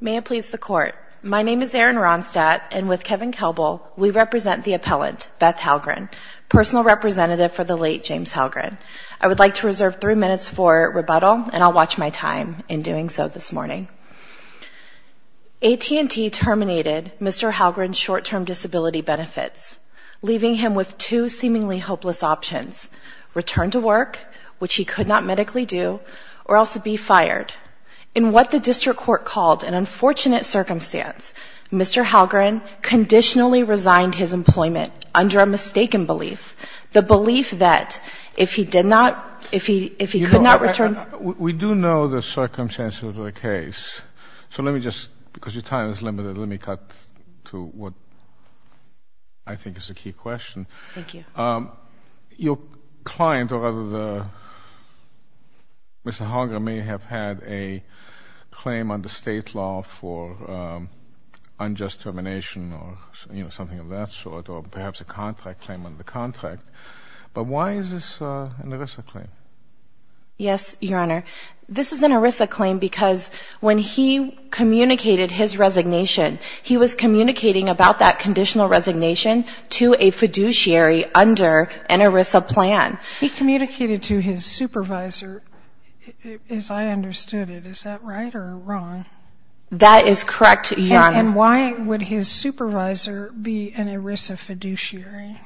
May it please the Court, my name is Erin Ronstadt, and with Kevin Kelbel, we represent the appellant Beth Hallgren, personal representative for the late James Hallgren. I would like to reserve three minutes for rebuttal, and I'll watch my time in doing so this morning. AT&T terminated Mr. Hallgren's short-term disability benefits, leaving him with two seemingly hopeless options, return to work, which he could not medically do, or also be fired. In what the district court called an unfortunate circumstance, Mr. Hallgren conditionally resigned his employment under a mistaken belief, the belief that if he did not, if he could not return. We do know the circumstances of the case, so let me just, because your time is limited, let me cut to what I think is a key question. Thank you. Your client, or rather the, Mr. Hallgren may have had a claim under state law for unjust termination or, you know, something of that sort, or perhaps a contract claim under the contract, but why is this an ERISA claim? Yes, Your Honor, this is an ERISA claim because when he communicated his resignation, he was communicating about that conditional resignation to a fiduciary under an ERISA plan. He communicated to his supervisor, as I understood it. Is that right or wrong? That is correct, Your Honor. And why would his supervisor be an ERISA fiduciary?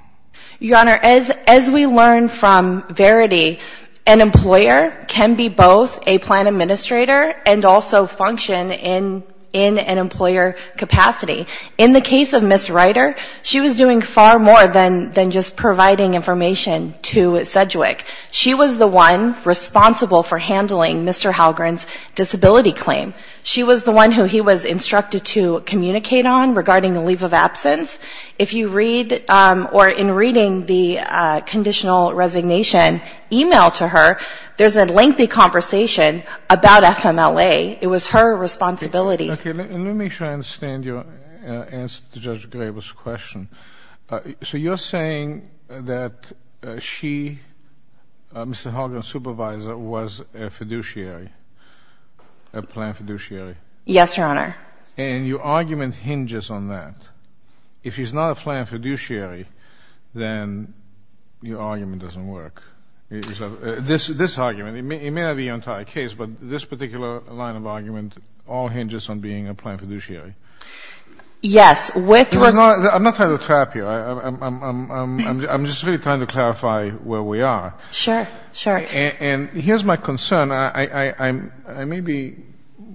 Your Honor, as we learned from Verity, an employer can be both a plan administrator and also function in an employer capacity. In the case of Ms. Ryder, she was doing far more than just providing information to Sedgwick. She was the one responsible for handling Mr. Hallgren's disability claim. She was the one who he was instructed to communicate on regarding the leave of absence. If you read, or in reading the conditional resignation e-mail to her, there's a lengthy conversation about FMLA. It was her responsibility. Okay, let me make sure I understand your answer to Judge Graber's question. So you're saying that she, Mr. Hallgren's supervisor, was a fiduciary, a plan fiduciary? Yes, Your Honor. And your argument hinges on that. If he's not a plan fiduciary, then your argument doesn't work. This argument, it may not be your entire case, but this particular line of argument all hinges on being a plan fiduciary. Yes. I'm not trying to trap you. I'm just really trying to clarify where we are. Sure, sure. And here's my concern. I may be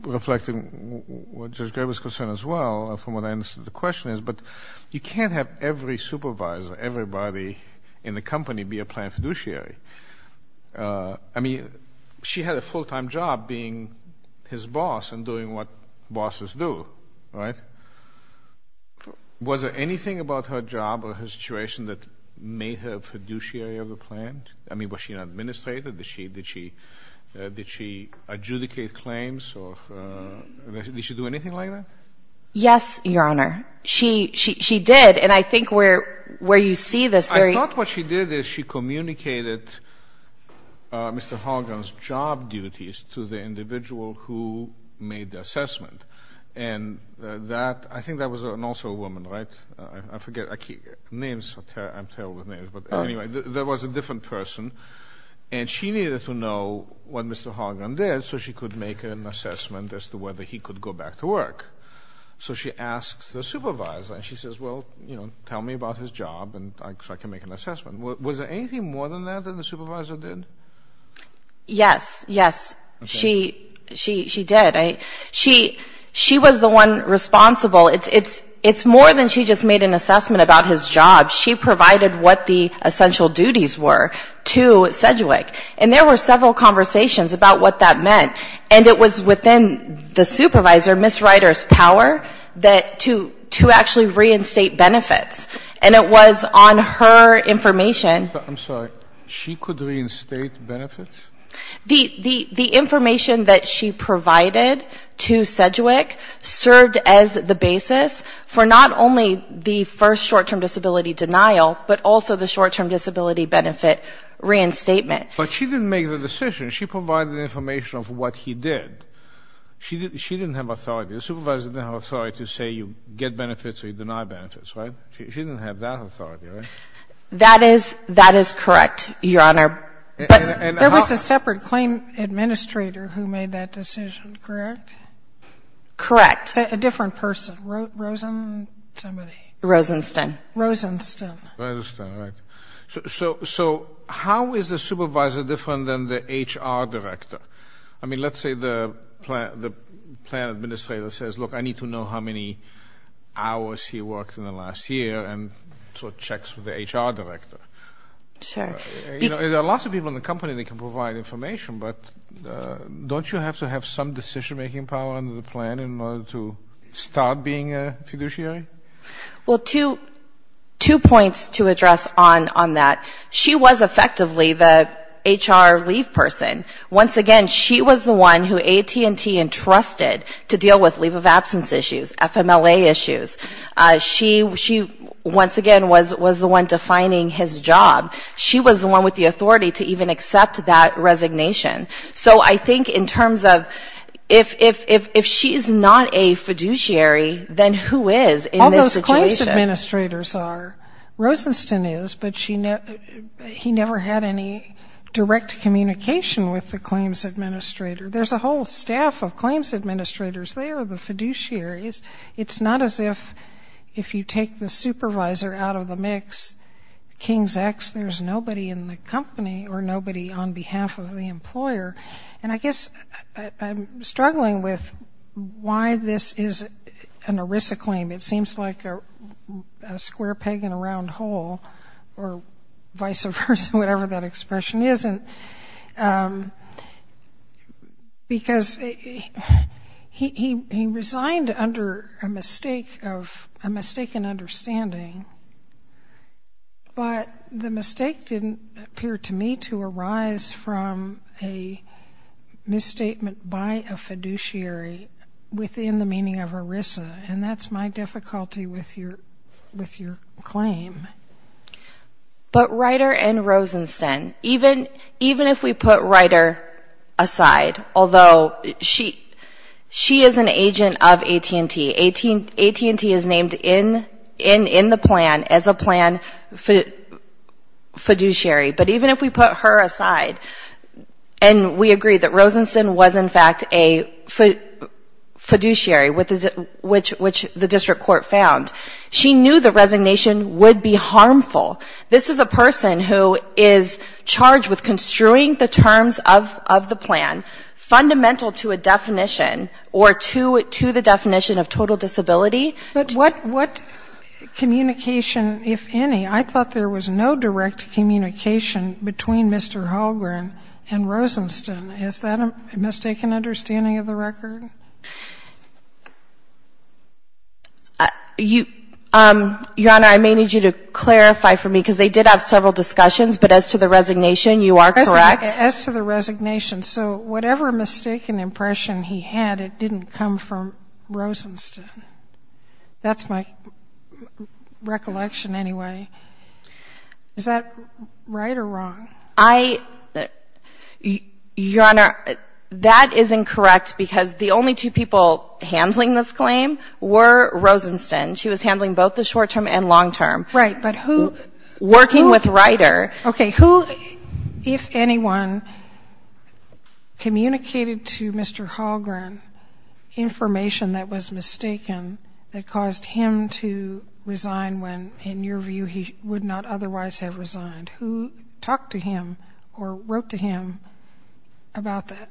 reflecting Judge Graber's concern as well from what I understood the question is, but you can't have every supervisor, everybody in the company be a plan fiduciary. I mean, she had a full-time job being his boss and doing what bosses do, right? Was there anything about her job or her situation that made her a fiduciary of the plan? I mean, was she an administrator? Did she adjudicate claims? Did she do anything like that? Yes, Your Honor. She did, and I think where you see this very — I thought what she did is she communicated Mr. Hargan's job duties to the individual who made the assessment, and I think that was also a woman, right? I forget. Names, I'm terrible with names. But anyway, there was a different person, and she needed to know what Mr. Hargan did so she could make an assessment as to whether he could go back to work. So she asks the supervisor, and she says, well, you know, tell me about his job so I can make an assessment. Was there anything more than that that the supervisor did? Yes, yes. She did. She was the one responsible. It's more than she just made an assessment about his job. She provided what the essential duties were to Sedgwick. And there were several conversations about what that meant, and it was within the supervisor, Ms. Ryder's, power to actually reinstate benefits. And it was on her information — I'm sorry. She could reinstate benefits? The information that she provided to Sedgwick served as the basis for not only the first short-term disability denial, but also the short-term disability benefit reinstatement. But she didn't make the decision. She provided information of what he did. She didn't have authority. The supervisor didn't have authority to say you get benefits or you deny benefits, right? She didn't have that authority, right? That is — that is correct, Your Honor. But there was a separate claim administrator who made that decision, correct? Correct. A different person. Rosen — somebody. Rosenstein. Rosenstein. Rosenstein, right. So how is the supervisor different than the HR director? I mean, let's say the plan administrator says, look, I need to know how many hours he worked in the last year, and sort of checks with the HR director. Sure. There are lots of people in the company that can provide information, but don't you have to have some decision-making power under the plan in order to start being a fiduciary? Well, two points to address on that. She was effectively the HR leave person. Once again, she was the one who AT&T entrusted to deal with leave of absence issues, FMLA issues. She once again was the one defining his job. She was the one with the authority to even accept that resignation. So I think in terms of if she is not a fiduciary, then who is in this situation? All those claims administrators are. Rosenstein is, but he never had any direct communication with the claims administrator. There's a whole staff of claims administrators there, the fiduciaries. It's not as if you take the supervisor out of the mix, King's X, unless there's nobody in the company or nobody on behalf of the employer. And I guess I'm struggling with why this is an ERISA claim. It seems like a square peg in a round hole or vice versa, whatever that expression is. And because he resigned under a mistake of a mistaken understanding, but the mistake didn't appear to me to arise from a misstatement by a fiduciary within the meaning of ERISA, and that's my difficulty with your claim. But Ryder and Rosenstein, even if we put Ryder aside, although she is an agent of AT&T, AT&T is named in the plan as a plan fiduciary. But even if we put her aside, and we agree that Rosenstein was in fact a fiduciary, which the district court found, she knew the resignation would be harmful. This is a person who is charged with construing the terms of the plan, fundamental to a definition or to the definition of total disability. But what communication, if any, I thought there was no direct communication between Mr. Holgren and Rosenstein. Is that a mistaken understanding of the record? Your Honor, I may need you to clarify for me, because they did have several discussions. But as to the resignation, you are correct. As to the resignation, so whatever mistaken impression he had, it didn't come from Rosenstein. That's my recollection anyway. Is that right or wrong? I — Your Honor, that is incorrect, because the only two people handling this claim were Rosenstein. She was handling both the short-term and long-term. Right. But who — Working with Ryder. Okay. Who, if anyone, communicated to Mr. Holgren information that was mistaken that caused him to resign when, in your view, he would not otherwise have resigned? Who talked to him or wrote to him about that?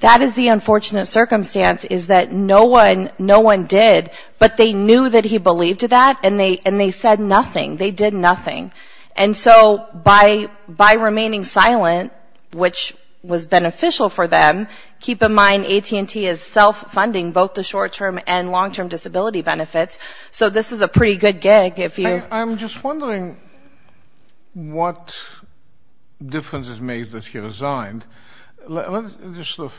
That is the unfortunate circumstance, is that no one — no one did. But they knew that he believed that, and they said nothing. They did nothing. And so by remaining silent, which was beneficial for them, keep in mind AT&T is self-funding both the short-term and long-term disability benefits. So this is a pretty good gig if you — I'm just wondering what differences made that he resigned. Let's just sort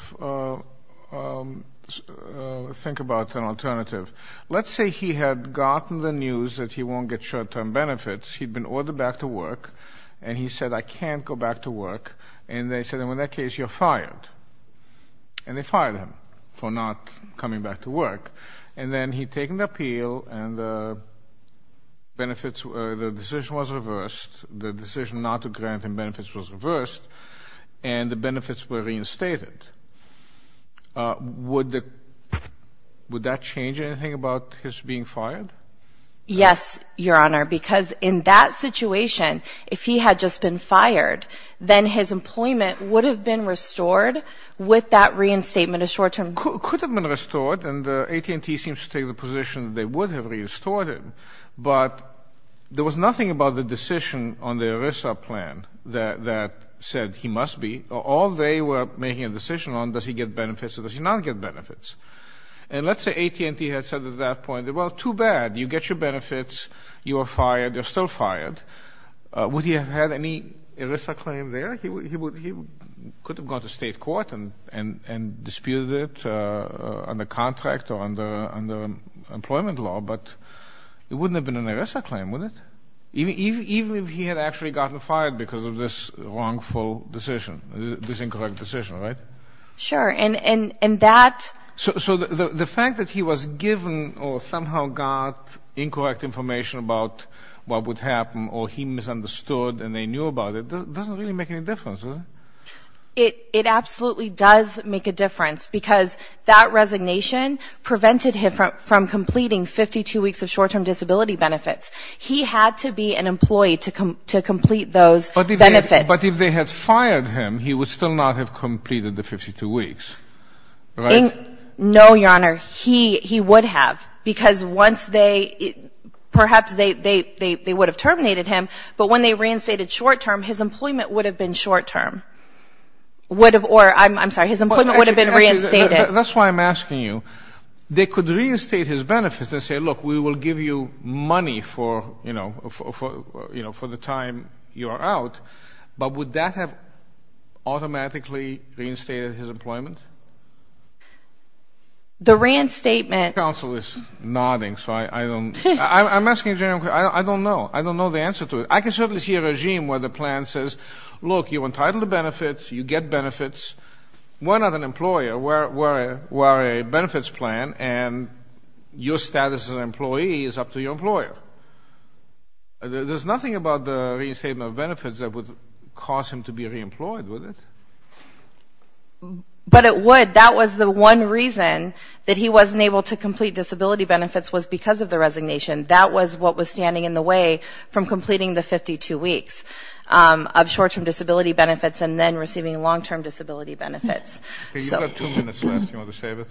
of think about an alternative. Let's say he had gotten the news that he won't get short-term benefits. He'd been ordered back to work, and he said, I can't go back to work. And they said, in that case, you're fired. And they fired him for not coming back to work. And then he'd taken the appeal, and the benefits — the decision was reversed. The decision not to grant him benefits was reversed, and the benefits were reinstated. Would that change anything about his being fired? Yes, Your Honor. Because in that situation, if he had just been fired, then his employment would have been restored with that reinstatement of short-term benefits. It could have been restored, and AT&T seems to take the position that they would have restored him. But there was nothing about the decision on the ERISA plan that said he must be. All they were making a decision on, does he get benefits or does he not get benefits. And let's say AT&T had said at that point, well, too bad. You get your benefits. You are fired. You're still fired. Would he have had any ERISA claim there? He could have gone to state court and disputed it under contract or under employment law, but it wouldn't have been an ERISA claim, would it? Even if he had actually gotten fired because of this wrongful decision, this incorrect decision, right? Sure. And that — So the fact that he was given or somehow got incorrect information about what would happen or he misunderstood and they knew about it doesn't really make any difference, does it? It absolutely does make a difference, because that resignation prevented him from completing 52 weeks of short-term disability benefits. He had to be an employee to complete those benefits. But if they had fired him, he would still not have completed the 52 weeks, right? No, Your Honor. He would have, because once they — perhaps they would have terminated him, but when they reinstated short-term, his employment would have been short-term. Or, I'm sorry, his employment would have been reinstated. That's why I'm asking you. They could reinstate his benefits and say, look, we will give you money for the time you are out, but would that have automatically reinstated his employment? The reinstatement — Counsel is nodding, so I don't — I'm asking a general question. I don't know. I don't know the answer to it. I can certainly see a regime where the plan says, look, you're entitled to benefits, you get benefits. We're not an employer. We're a benefits plan, and your status as an employee is up to your employer. There's nothing about the reinstatement of benefits that would cause him to be reemployed, would it? But it would. That was the one reason that he wasn't able to complete disability benefits was because of the resignation. That was what was standing in the way from completing the 52 weeks of short-term disability benefits and then receiving long-term disability benefits. You've got two minutes left. Do you want to save it?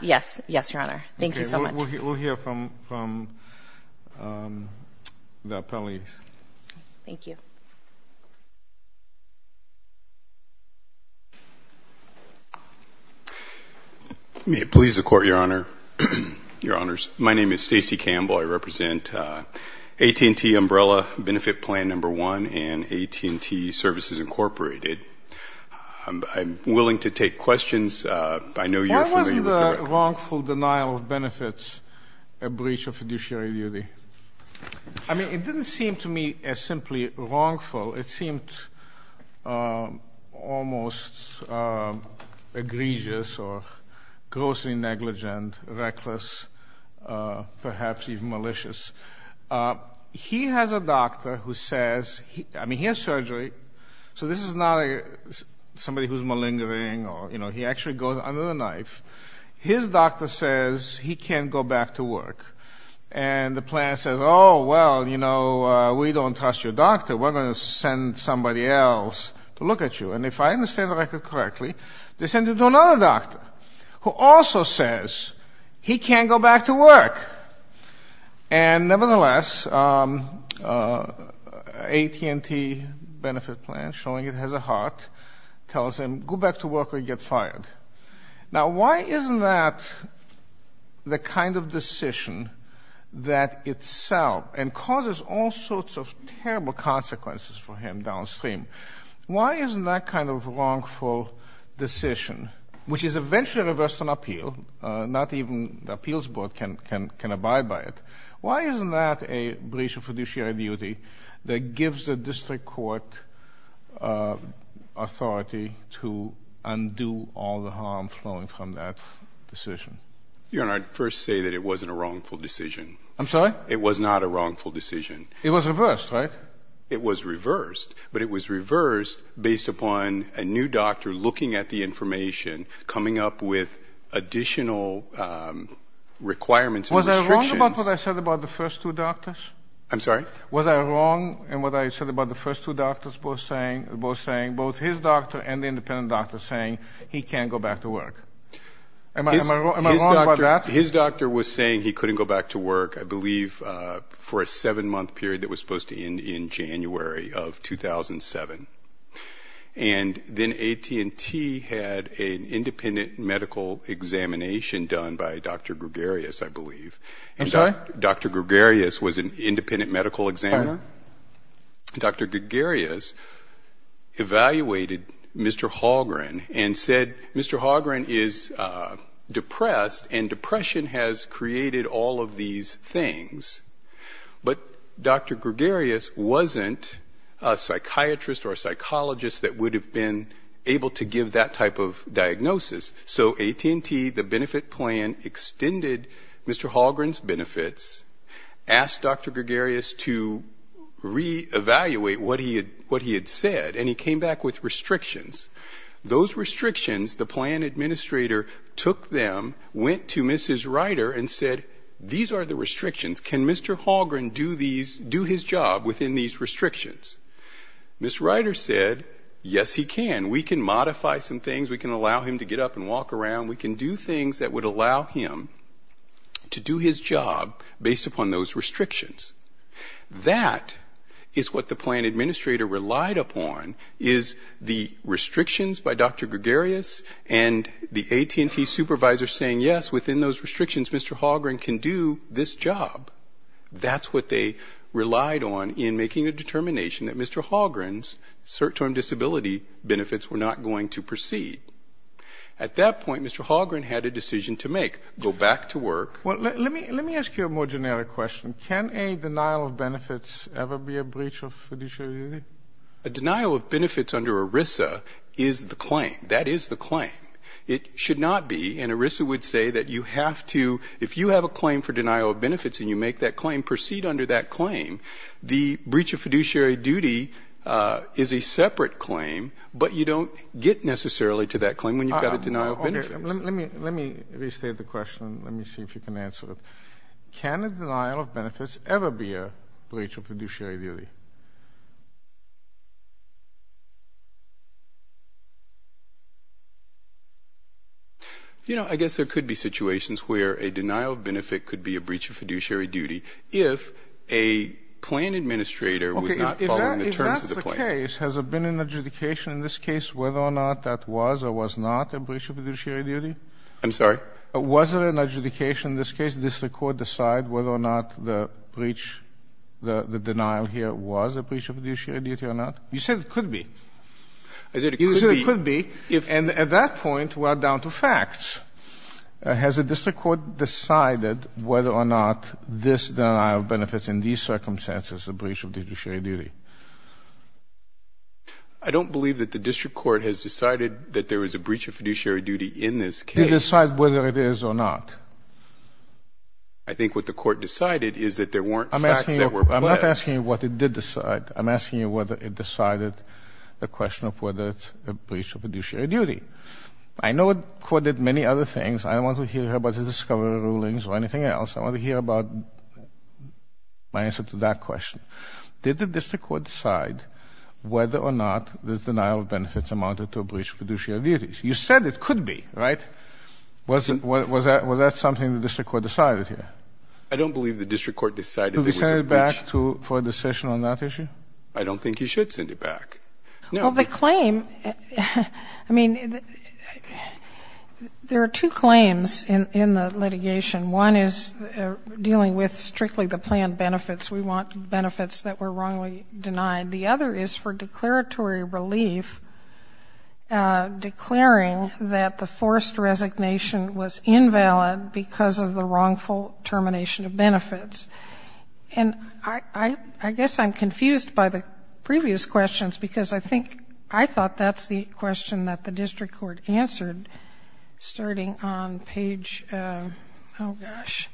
Yes. Yes, Your Honor. Thank you so much. We'll hear from the appellees. Thank you. May it please the Court, Your Honor, Your Honors. My name is Stacy Campbell. I represent AT&T Umbrella Benefit Plan No. 1 and AT&T Services, Incorporated. I'm willing to take questions. I know you're familiar with the record. Why wasn't the wrongful denial of benefits a breach of fiduciary duty? I mean, it didn't seem to me as simply wrongful. It seemed almost egregious or grossly negligent, reckless, perhaps even malicious. He has a doctor who says he has surgery. So this is not somebody who's malingering or, you know, he actually goes under the knife. His doctor says he can't go back to work. And the plan says, oh, well, you know, we don't trust your doctor. We're going to send somebody else to look at you. And if I understand the record correctly, they send him to another doctor who also says he can't go back to work. And nevertheless, AT&T Benefit Plan, showing it has a heart, tells him go back to work or get fired. Now, why isn't that the kind of decision that itself, and causes all sorts of terrible consequences for him downstream, why isn't that kind of wrongful decision, which is eventually reversed on appeal, not even the appeals board can abide by it, why isn't that a breach of fiduciary duty that gives the district court authority to undo all the harm flowing from that decision? Your Honor, I'd first say that it wasn't a wrongful decision. I'm sorry? It was not a wrongful decision. It was reversed, right? It was reversed, but it was reversed based upon a new doctor looking at the information, coming up with additional requirements and restrictions. Was I wrong about what I said about the first two doctors? I'm sorry? Was I wrong in what I said about the first two doctors both saying, both his doctor and the independent doctor saying he can't go back to work? Am I wrong about that? His doctor was saying he couldn't go back to work, I believe, for a seven-month period that was supposed to end in January of 2007. And then AT&T had an independent medical examination done by Dr. Gregarious, I believe. I'm sorry? Dr. Gregarious was an independent medical examiner. I'm not. Dr. Gregarious evaluated Mr. Holgren and said, Mr. Holgren is depressed, and depression has created all of these things. But Dr. Gregarious wasn't a psychiatrist or a psychologist that would have been able to give that type of diagnosis. So AT&T, the benefit plan, extended Mr. Holgren's benefits, asked Dr. Gregarious to reevaluate what he had said, and he came back with restrictions. Those restrictions, the plan administrator took them, went to Mrs. Ryder and said, these are the restrictions. Can Mr. Holgren do his job within these restrictions? Mrs. Ryder said, yes, he can. We can modify some things. We can allow him to get up and walk around. We can do things that would allow him to do his job based upon those restrictions. That is what the plan administrator relied upon, is the restrictions by Dr. Gregarious and the AT&T supervisor saying, yes, within those restrictions, Mr. Holgren can do this job. That's what they relied on in making a determination that Mr. Holgren's cert-term disability benefits were not going to proceed. At that point, Mr. Holgren had a decision to make, go back to work. Let me ask you a more generic question. Can a denial of benefits ever be a breach of fiduciary duty? A denial of benefits under ERISA is the claim. That is the claim. It should not be, and ERISA would say that you have to, if you have a claim for denial of benefits and you make that claim, proceed under that claim. The breach of fiduciary duty is a separate claim, but you don't get necessarily to that claim when you've got a denial of benefits. Let me restate the question. Let me see if you can answer it. Can a denial of benefits ever be a breach of fiduciary duty? You know, I guess there could be situations where a denial of benefit could be a breach of fiduciary duty if a plan administrator was not following the terms of the plan. Okay. If that's the case, has there been an adjudication in this case whether or not that was or was not a breach of fiduciary duty? I'm sorry? Was there an adjudication in this case? Has the district court decided whether or not the breach, the denial here was a breach of fiduciary duty or not? You said it could be. I said it could be. You said it could be. And at that point, we're down to facts. Has the district court decided whether or not this denial of benefits in these circumstances is a breach of fiduciary duty? I don't believe that the district court has decided that there is a breach of fiduciary duty in this case. Did it decide whether it is or not? I think what the court decided is that there weren't facts that were present. I'm not asking you what it did decide. I'm asking you whether it decided the question of whether it's a breach of fiduciary duty. I know the court did many other things. I don't want to hear about the discovery rulings or anything else. I want to hear about my answer to that question. Did the district court decide whether or not this denial of benefits amounted to a breach of fiduciary duties? You said it could be, right? Was that something the district court decided here? I don't believe the district court decided it was a breach. Could we send it back for a decision on that issue? I don't think you should send it back. Well, the claim, I mean, there are two claims in the litigation. One is dealing with strictly the planned benefits. We want benefits that were wrongly denied. The other is for declaratory relief, declaring that the forced resignation was invalid because of the wrongful termination of benefits. And I guess I'm confused by the previous questions, because I think I thought that's the question that the district court answered starting on page, oh, gosh,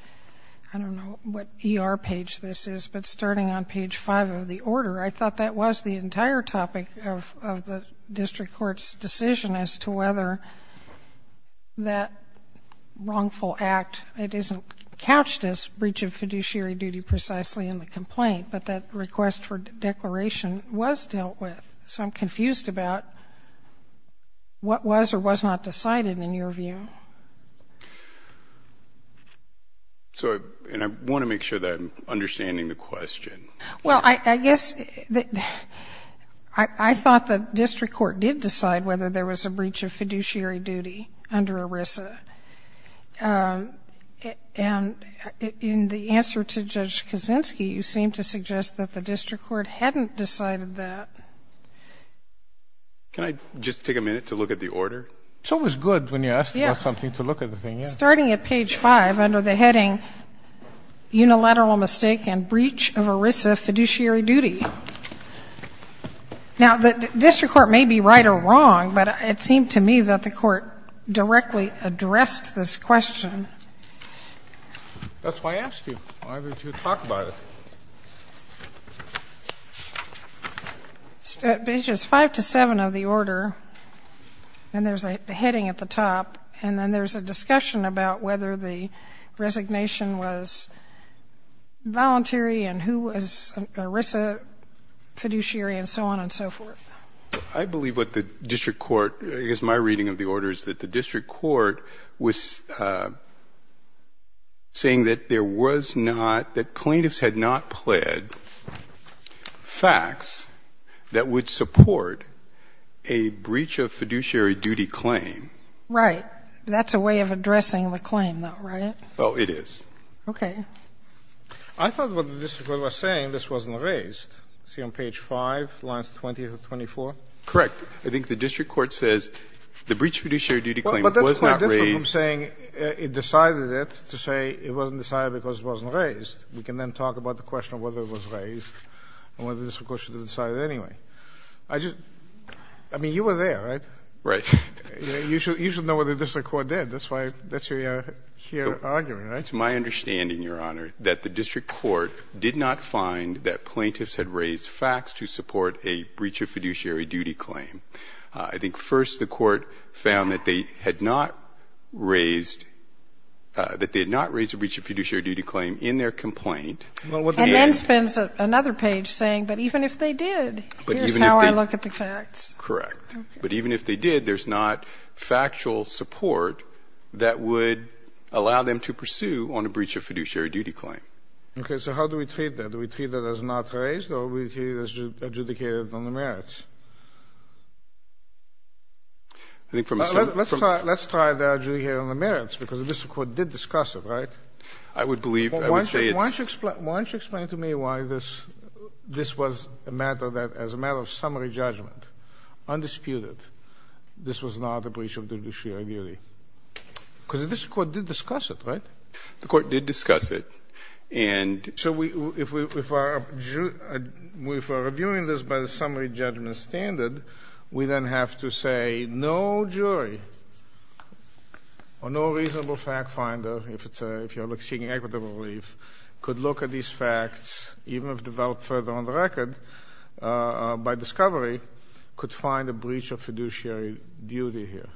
I don't know what ER page this is, but starting on page 5 of the order. I thought that was the entire topic of the district court's decision as to whether that wrongful act, it isn't couched as breach of fiduciary duty precisely in the complaint, but that request for declaration was dealt with. So I'm confused about what was or was not decided in your view. And I want to make sure that I'm understanding the question. Well, I guess I thought the district court did decide whether there was a breach of fiduciary duty under ERISA. And in the answer to Judge Kaczynski, you seem to suggest that the district court hadn't decided that. Can I just take a minute to look at the order? It's always good when you ask about something to look at the thing. Starting at page 5 under the heading unilateral mistake and breach of ERISA fiduciary duty. Now, the district court may be right or wrong, but it seemed to me that the court directly addressed this question. That's why I asked you. Why would you talk about it? At pages 5 to 7 of the order, and there's a heading at the top, and then there's a discussion about whether the resignation was voluntary and who was ERISA fiduciary and so on and so forth. I believe what the district court, I guess my reading of the order is that the district court was saying that there was not, that plaintiffs had not pled facts that would support a breach of fiduciary duty claim. Right. That's a way of addressing the claim, though, right? Oh, it is. Okay. I thought what the district court was saying, this wasn't raised. See on page 5, lines 20 to 24? Correct. I think the district court says the breach of fiduciary duty claim was not raised. Well, but that's quite different from saying it decided it to say it wasn't decided because it wasn't raised. We can then talk about the question of whether it was raised and whether the district court should have decided it anyway. I just, I mean, you were there, right? Right. You should know what the district court did. That's why that's your here argument, right? It's my understanding, Your Honor, that the district court did not find that plaintiffs had raised facts to support a breach of fiduciary duty claim. I think first the court found that they had not raised, that they had not raised a breach of fiduciary duty claim in their complaint. And then spends another page saying, but even if they did, here's how I look at the facts. Correct. But even if they did, there's not factual support that would allow them to pursue on a breach of fiduciary duty claim. Okay. So how do we treat that? Do we treat that as not raised or do we treat it as adjudicated on the merits? I think from a summary. Let's try the adjudicated on the merits, because the district court did discuss it, right? I would believe, I would say it's. Why don't you explain to me why this was a matter that, as a matter of summary judgment, undisputed, this was not a breach of fiduciary duty? Because the district court did discuss it, right? The court did discuss it. So if we are reviewing this by the summary judgment standard, we then have to say no jury or no reasonable fact finder, if you're seeking equitable relief, could look at these facts, even if developed further on the record, by discovery, could find a breach of fiduciary duty here.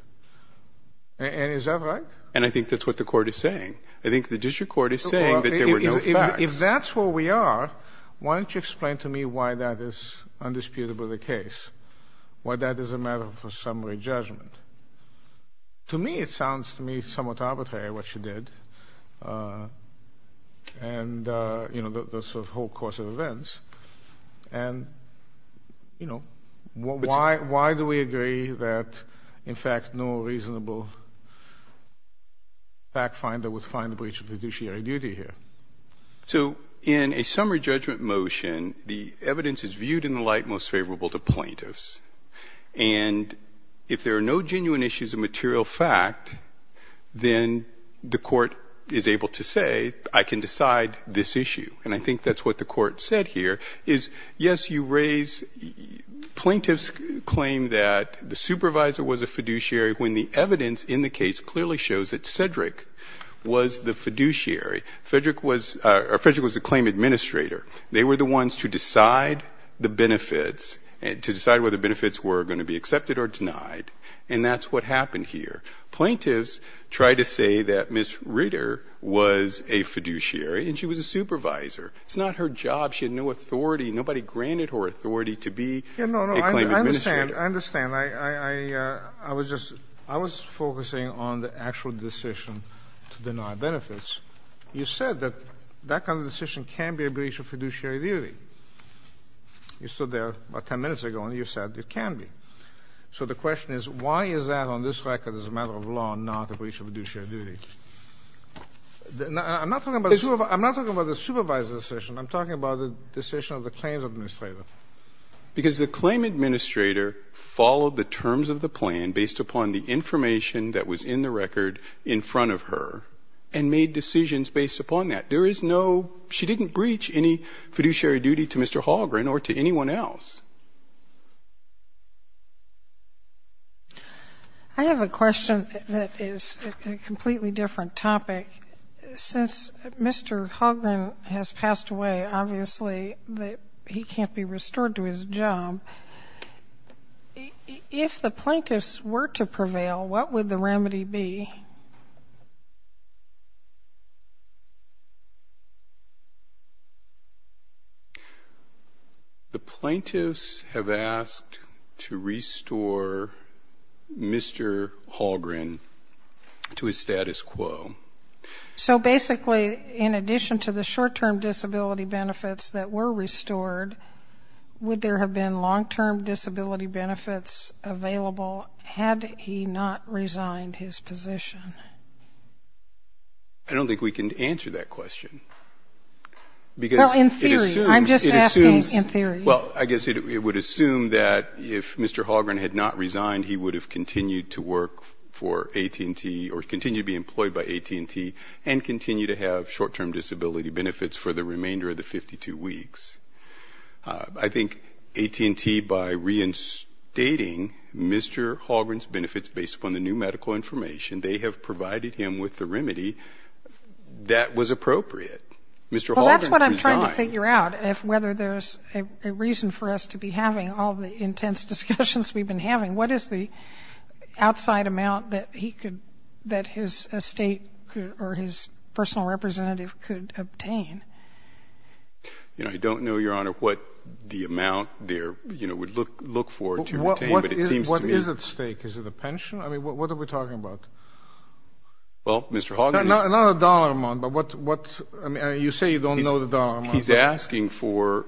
And is that right? And I think that's what the court is saying. I think the district court is saying that there were no facts. Okay. If that's where we are, why don't you explain to me why that is undisputed by the case, why that is a matter of a summary judgment? To me, it sounds to me somewhat arbitrary, what you did, and, you know, the sort of whole course of events. And, you know, why do we agree that, in fact, no reasonable fact finder was able to find a breach of fiduciary duty here? So in a summary judgment motion, the evidence is viewed in the light most favorable to plaintiffs. And if there are no genuine issues of material fact, then the court is able to say, I can decide this issue. And I think that's what the court said here, is, yes, you raise plaintiff's claim that the supervisor was a fiduciary when the evidence in the case clearly shows that Cedric was the fiduciary. Cedric was the claim administrator. They were the ones to decide the benefits, to decide whether the benefits were going to be accepted or denied. And that's what happened here. Plaintiffs tried to say that Ms. Ritter was a fiduciary and she was a supervisor. It's not her job. She had no authority. Nobody granted her authority to be a claim administrator. I understand. I was just focusing on the actual decision to deny benefits. You said that that kind of decision can be a breach of fiduciary duty. You stood there about 10 minutes ago and you said it can be. So the question is, why is that on this record as a matter of law not a breach of fiduciary duty? I'm not talking about the supervisor's decision. I'm talking about the decision of the claims administrator. Because the claim administrator followed the terms of the plan based upon the information that was in the record in front of her and made decisions based upon that. There is no ñ she didn't breach any fiduciary duty to Mr. Hallgren or to anyone else. I have a question that is a completely different topic. Since Mr. Hallgren has passed away, obviously he can't be restored to his job. If the plaintiffs were to prevail, what would the remedy be? The plaintiffs have asked to restore Mr. Hallgren to his status quo. So basically, in addition to the short-term disability benefits that were restored, would there have been long-term disability benefits available had he not resigned his position? I don't think we can answer that question. Well, in theory. I'm just asking in theory. Well, I guess it would assume that if Mr. Hallgren had not resigned, he would have continued to work for AT&T or continue to be employed by AT&T and continue to have short-term disability benefits for the remainder of the 52 weeks. I think AT&T, by reinstating Mr. Hallgren's benefits based upon the new medical information, they have provided him with the remedy that was appropriate. Well, that's what I'm trying to figure out, whether there's a reason for us to be having all the intense discussions we've been having. What is the outside amount that he could ñ that his estate or his personal representative could obtain? You know, I don't know, Your Honor, what the amount there would look for to obtain, but it seems to me ñ What is at stake? Is it a pension? I mean, what are we talking about? Well, Mr. Hallgren is ñ Not a dollar amount, but what ñ I mean, you say you don't know the dollar amount. He's asking for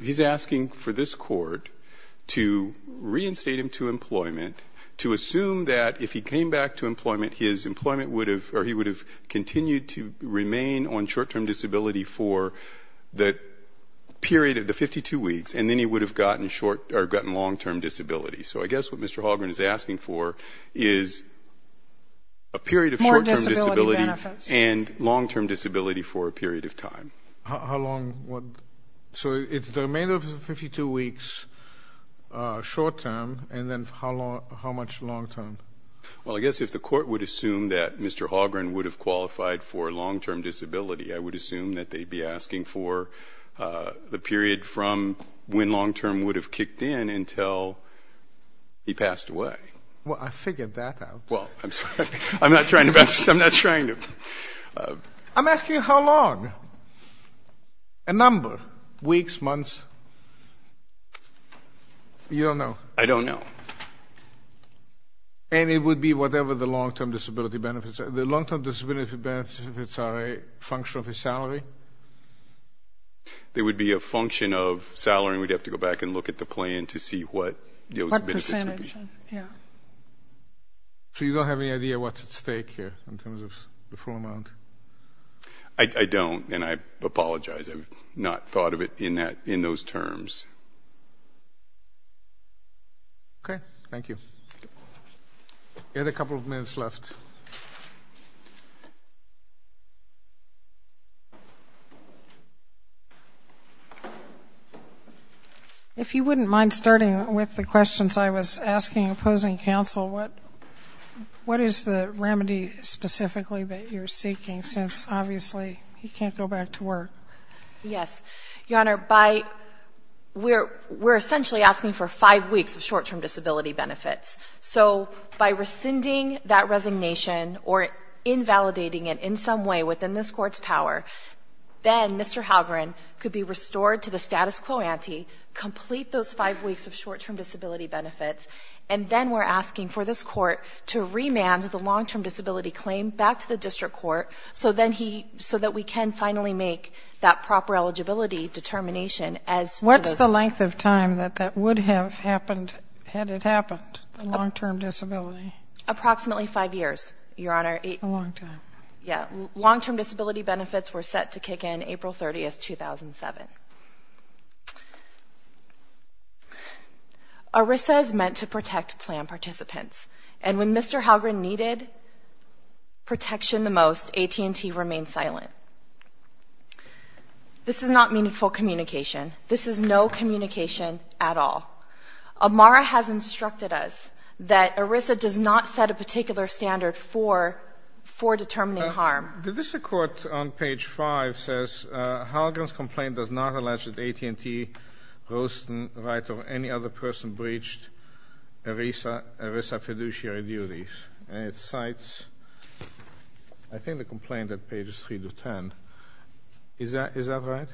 ñ he's asking for this court to reinstate him to employment to assume that if he came back to employment, his employment would have ñ or he would have continued to remain on short-term disability for the period of the 52 weeks, and then he would have gotten short ñ or gotten long-term disability. So I guess what Mr. Hallgren is asking for is a period of short-term disability More disability benefits. And long-term disability for a period of time. How long would ñ so it's the remainder of the 52 weeks short-term, and then how much long-term? Well, I guess if the court would assume that Mr. Hallgren would have qualified for long-term disability, I would assume that they'd be asking for the period from when long-term would have kicked in until he passed away. Well, I figured that out. Well, I'm sorry. I'm not trying to ñ I'm not trying to ñ I'm asking how long. A number. Weeks, months. You don't know? I don't know. And it would be whatever the long-term disability benefits are. The long-term disability benefits are a function of his salary? They would be a function of salary, and we'd have to go back and look at the plan to see what those benefits would be. What percentage, yeah. So you don't have any idea what's at stake here in terms of the full amount? I don't, and I apologize. I've not thought of it in those terms. Okay. Thank you. We have a couple of minutes left. If you wouldn't mind starting with the questions I was asking opposing counsel, what is the remedy specifically that you're seeking since, obviously, he can't go back to work? Yes. Your Honor, we're essentially asking for five weeks of short-term disability benefits. So by rescinding that resignation or invalidating it in some way within this court's power, then Mr. Halgren could be restored to the status quo ante, complete those five weeks of short-term disability benefits, and then we're asking for this court to remand the long-term disability claim back to the district court so that we can finally make that proper eligibility determination. What's the length of time that that would have happened had it happened, the long-term disability? Approximately five years, Your Honor. A long time. Yeah. Long-term disability benefits were set to kick in April 30, 2007. ERISA is meant to protect plan participants, and when Mr. Halgren needed protection the most, AT&T remained silent. This is not meaningful communication. This is no communication at all. Amara has instructed us that ERISA does not set a particular standard for determining harm. The district court on page 5 says, Halgren's complaint does not allege that AT&T rose to the right of any other person breached ERISA fiduciary duties. And it cites, I think, the complaint at pages 3 to 10. Is that right?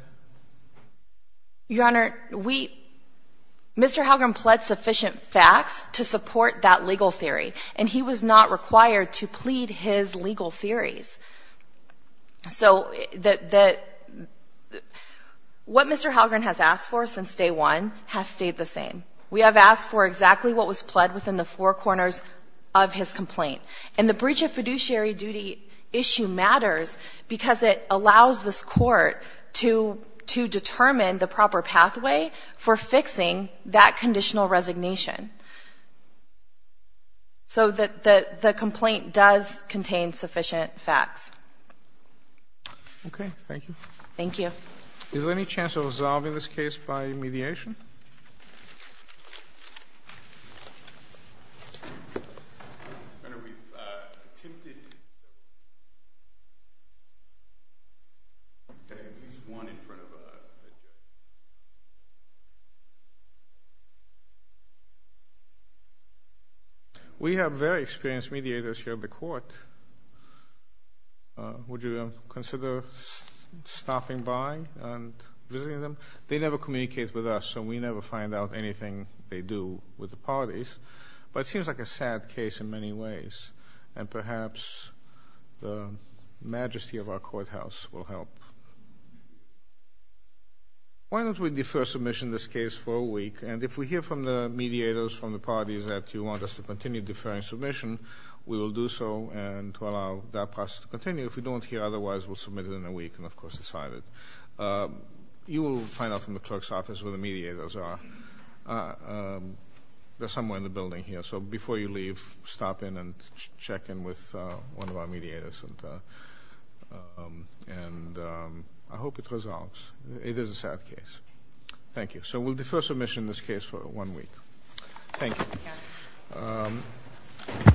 Your Honor, Mr. Halgren pled sufficient facts to support that legal theory, and he was not required to plead his legal theories. So what Mr. Halgren has asked for since day one has stayed the same. We have asked for exactly what was pled within the four corners of his complaint. And the breach of fiduciary duty issue matters because it allows this court to determine the proper pathway for fixing that conditional resignation. So the complaint does contain sufficient facts. Okay. Thank you. Thank you. Is there any chance of resolving this case by mediation? Mediation? We have very experienced mediators here in the court. Would you consider stopping by and visiting them? They never communicate with us, so we never find out anything they do with the parties. But it seems like a sad case in many ways. And perhaps the majesty of our courthouse will help. Why don't we defer submission of this case for a week? And if we hear from the mediators from the parties that you want us to continue deferring submission, we will do so and allow that process to continue. If we don't hear otherwise, we'll submit it in a week and, of course, decide it. You will find out from the clerk's office where the mediators are. They're somewhere in the building here. So before you leave, stop in and check in with one of our mediators. And I hope it resolves. It is a sad case. Thank you. So we'll defer submission of this case for one week. Thank you.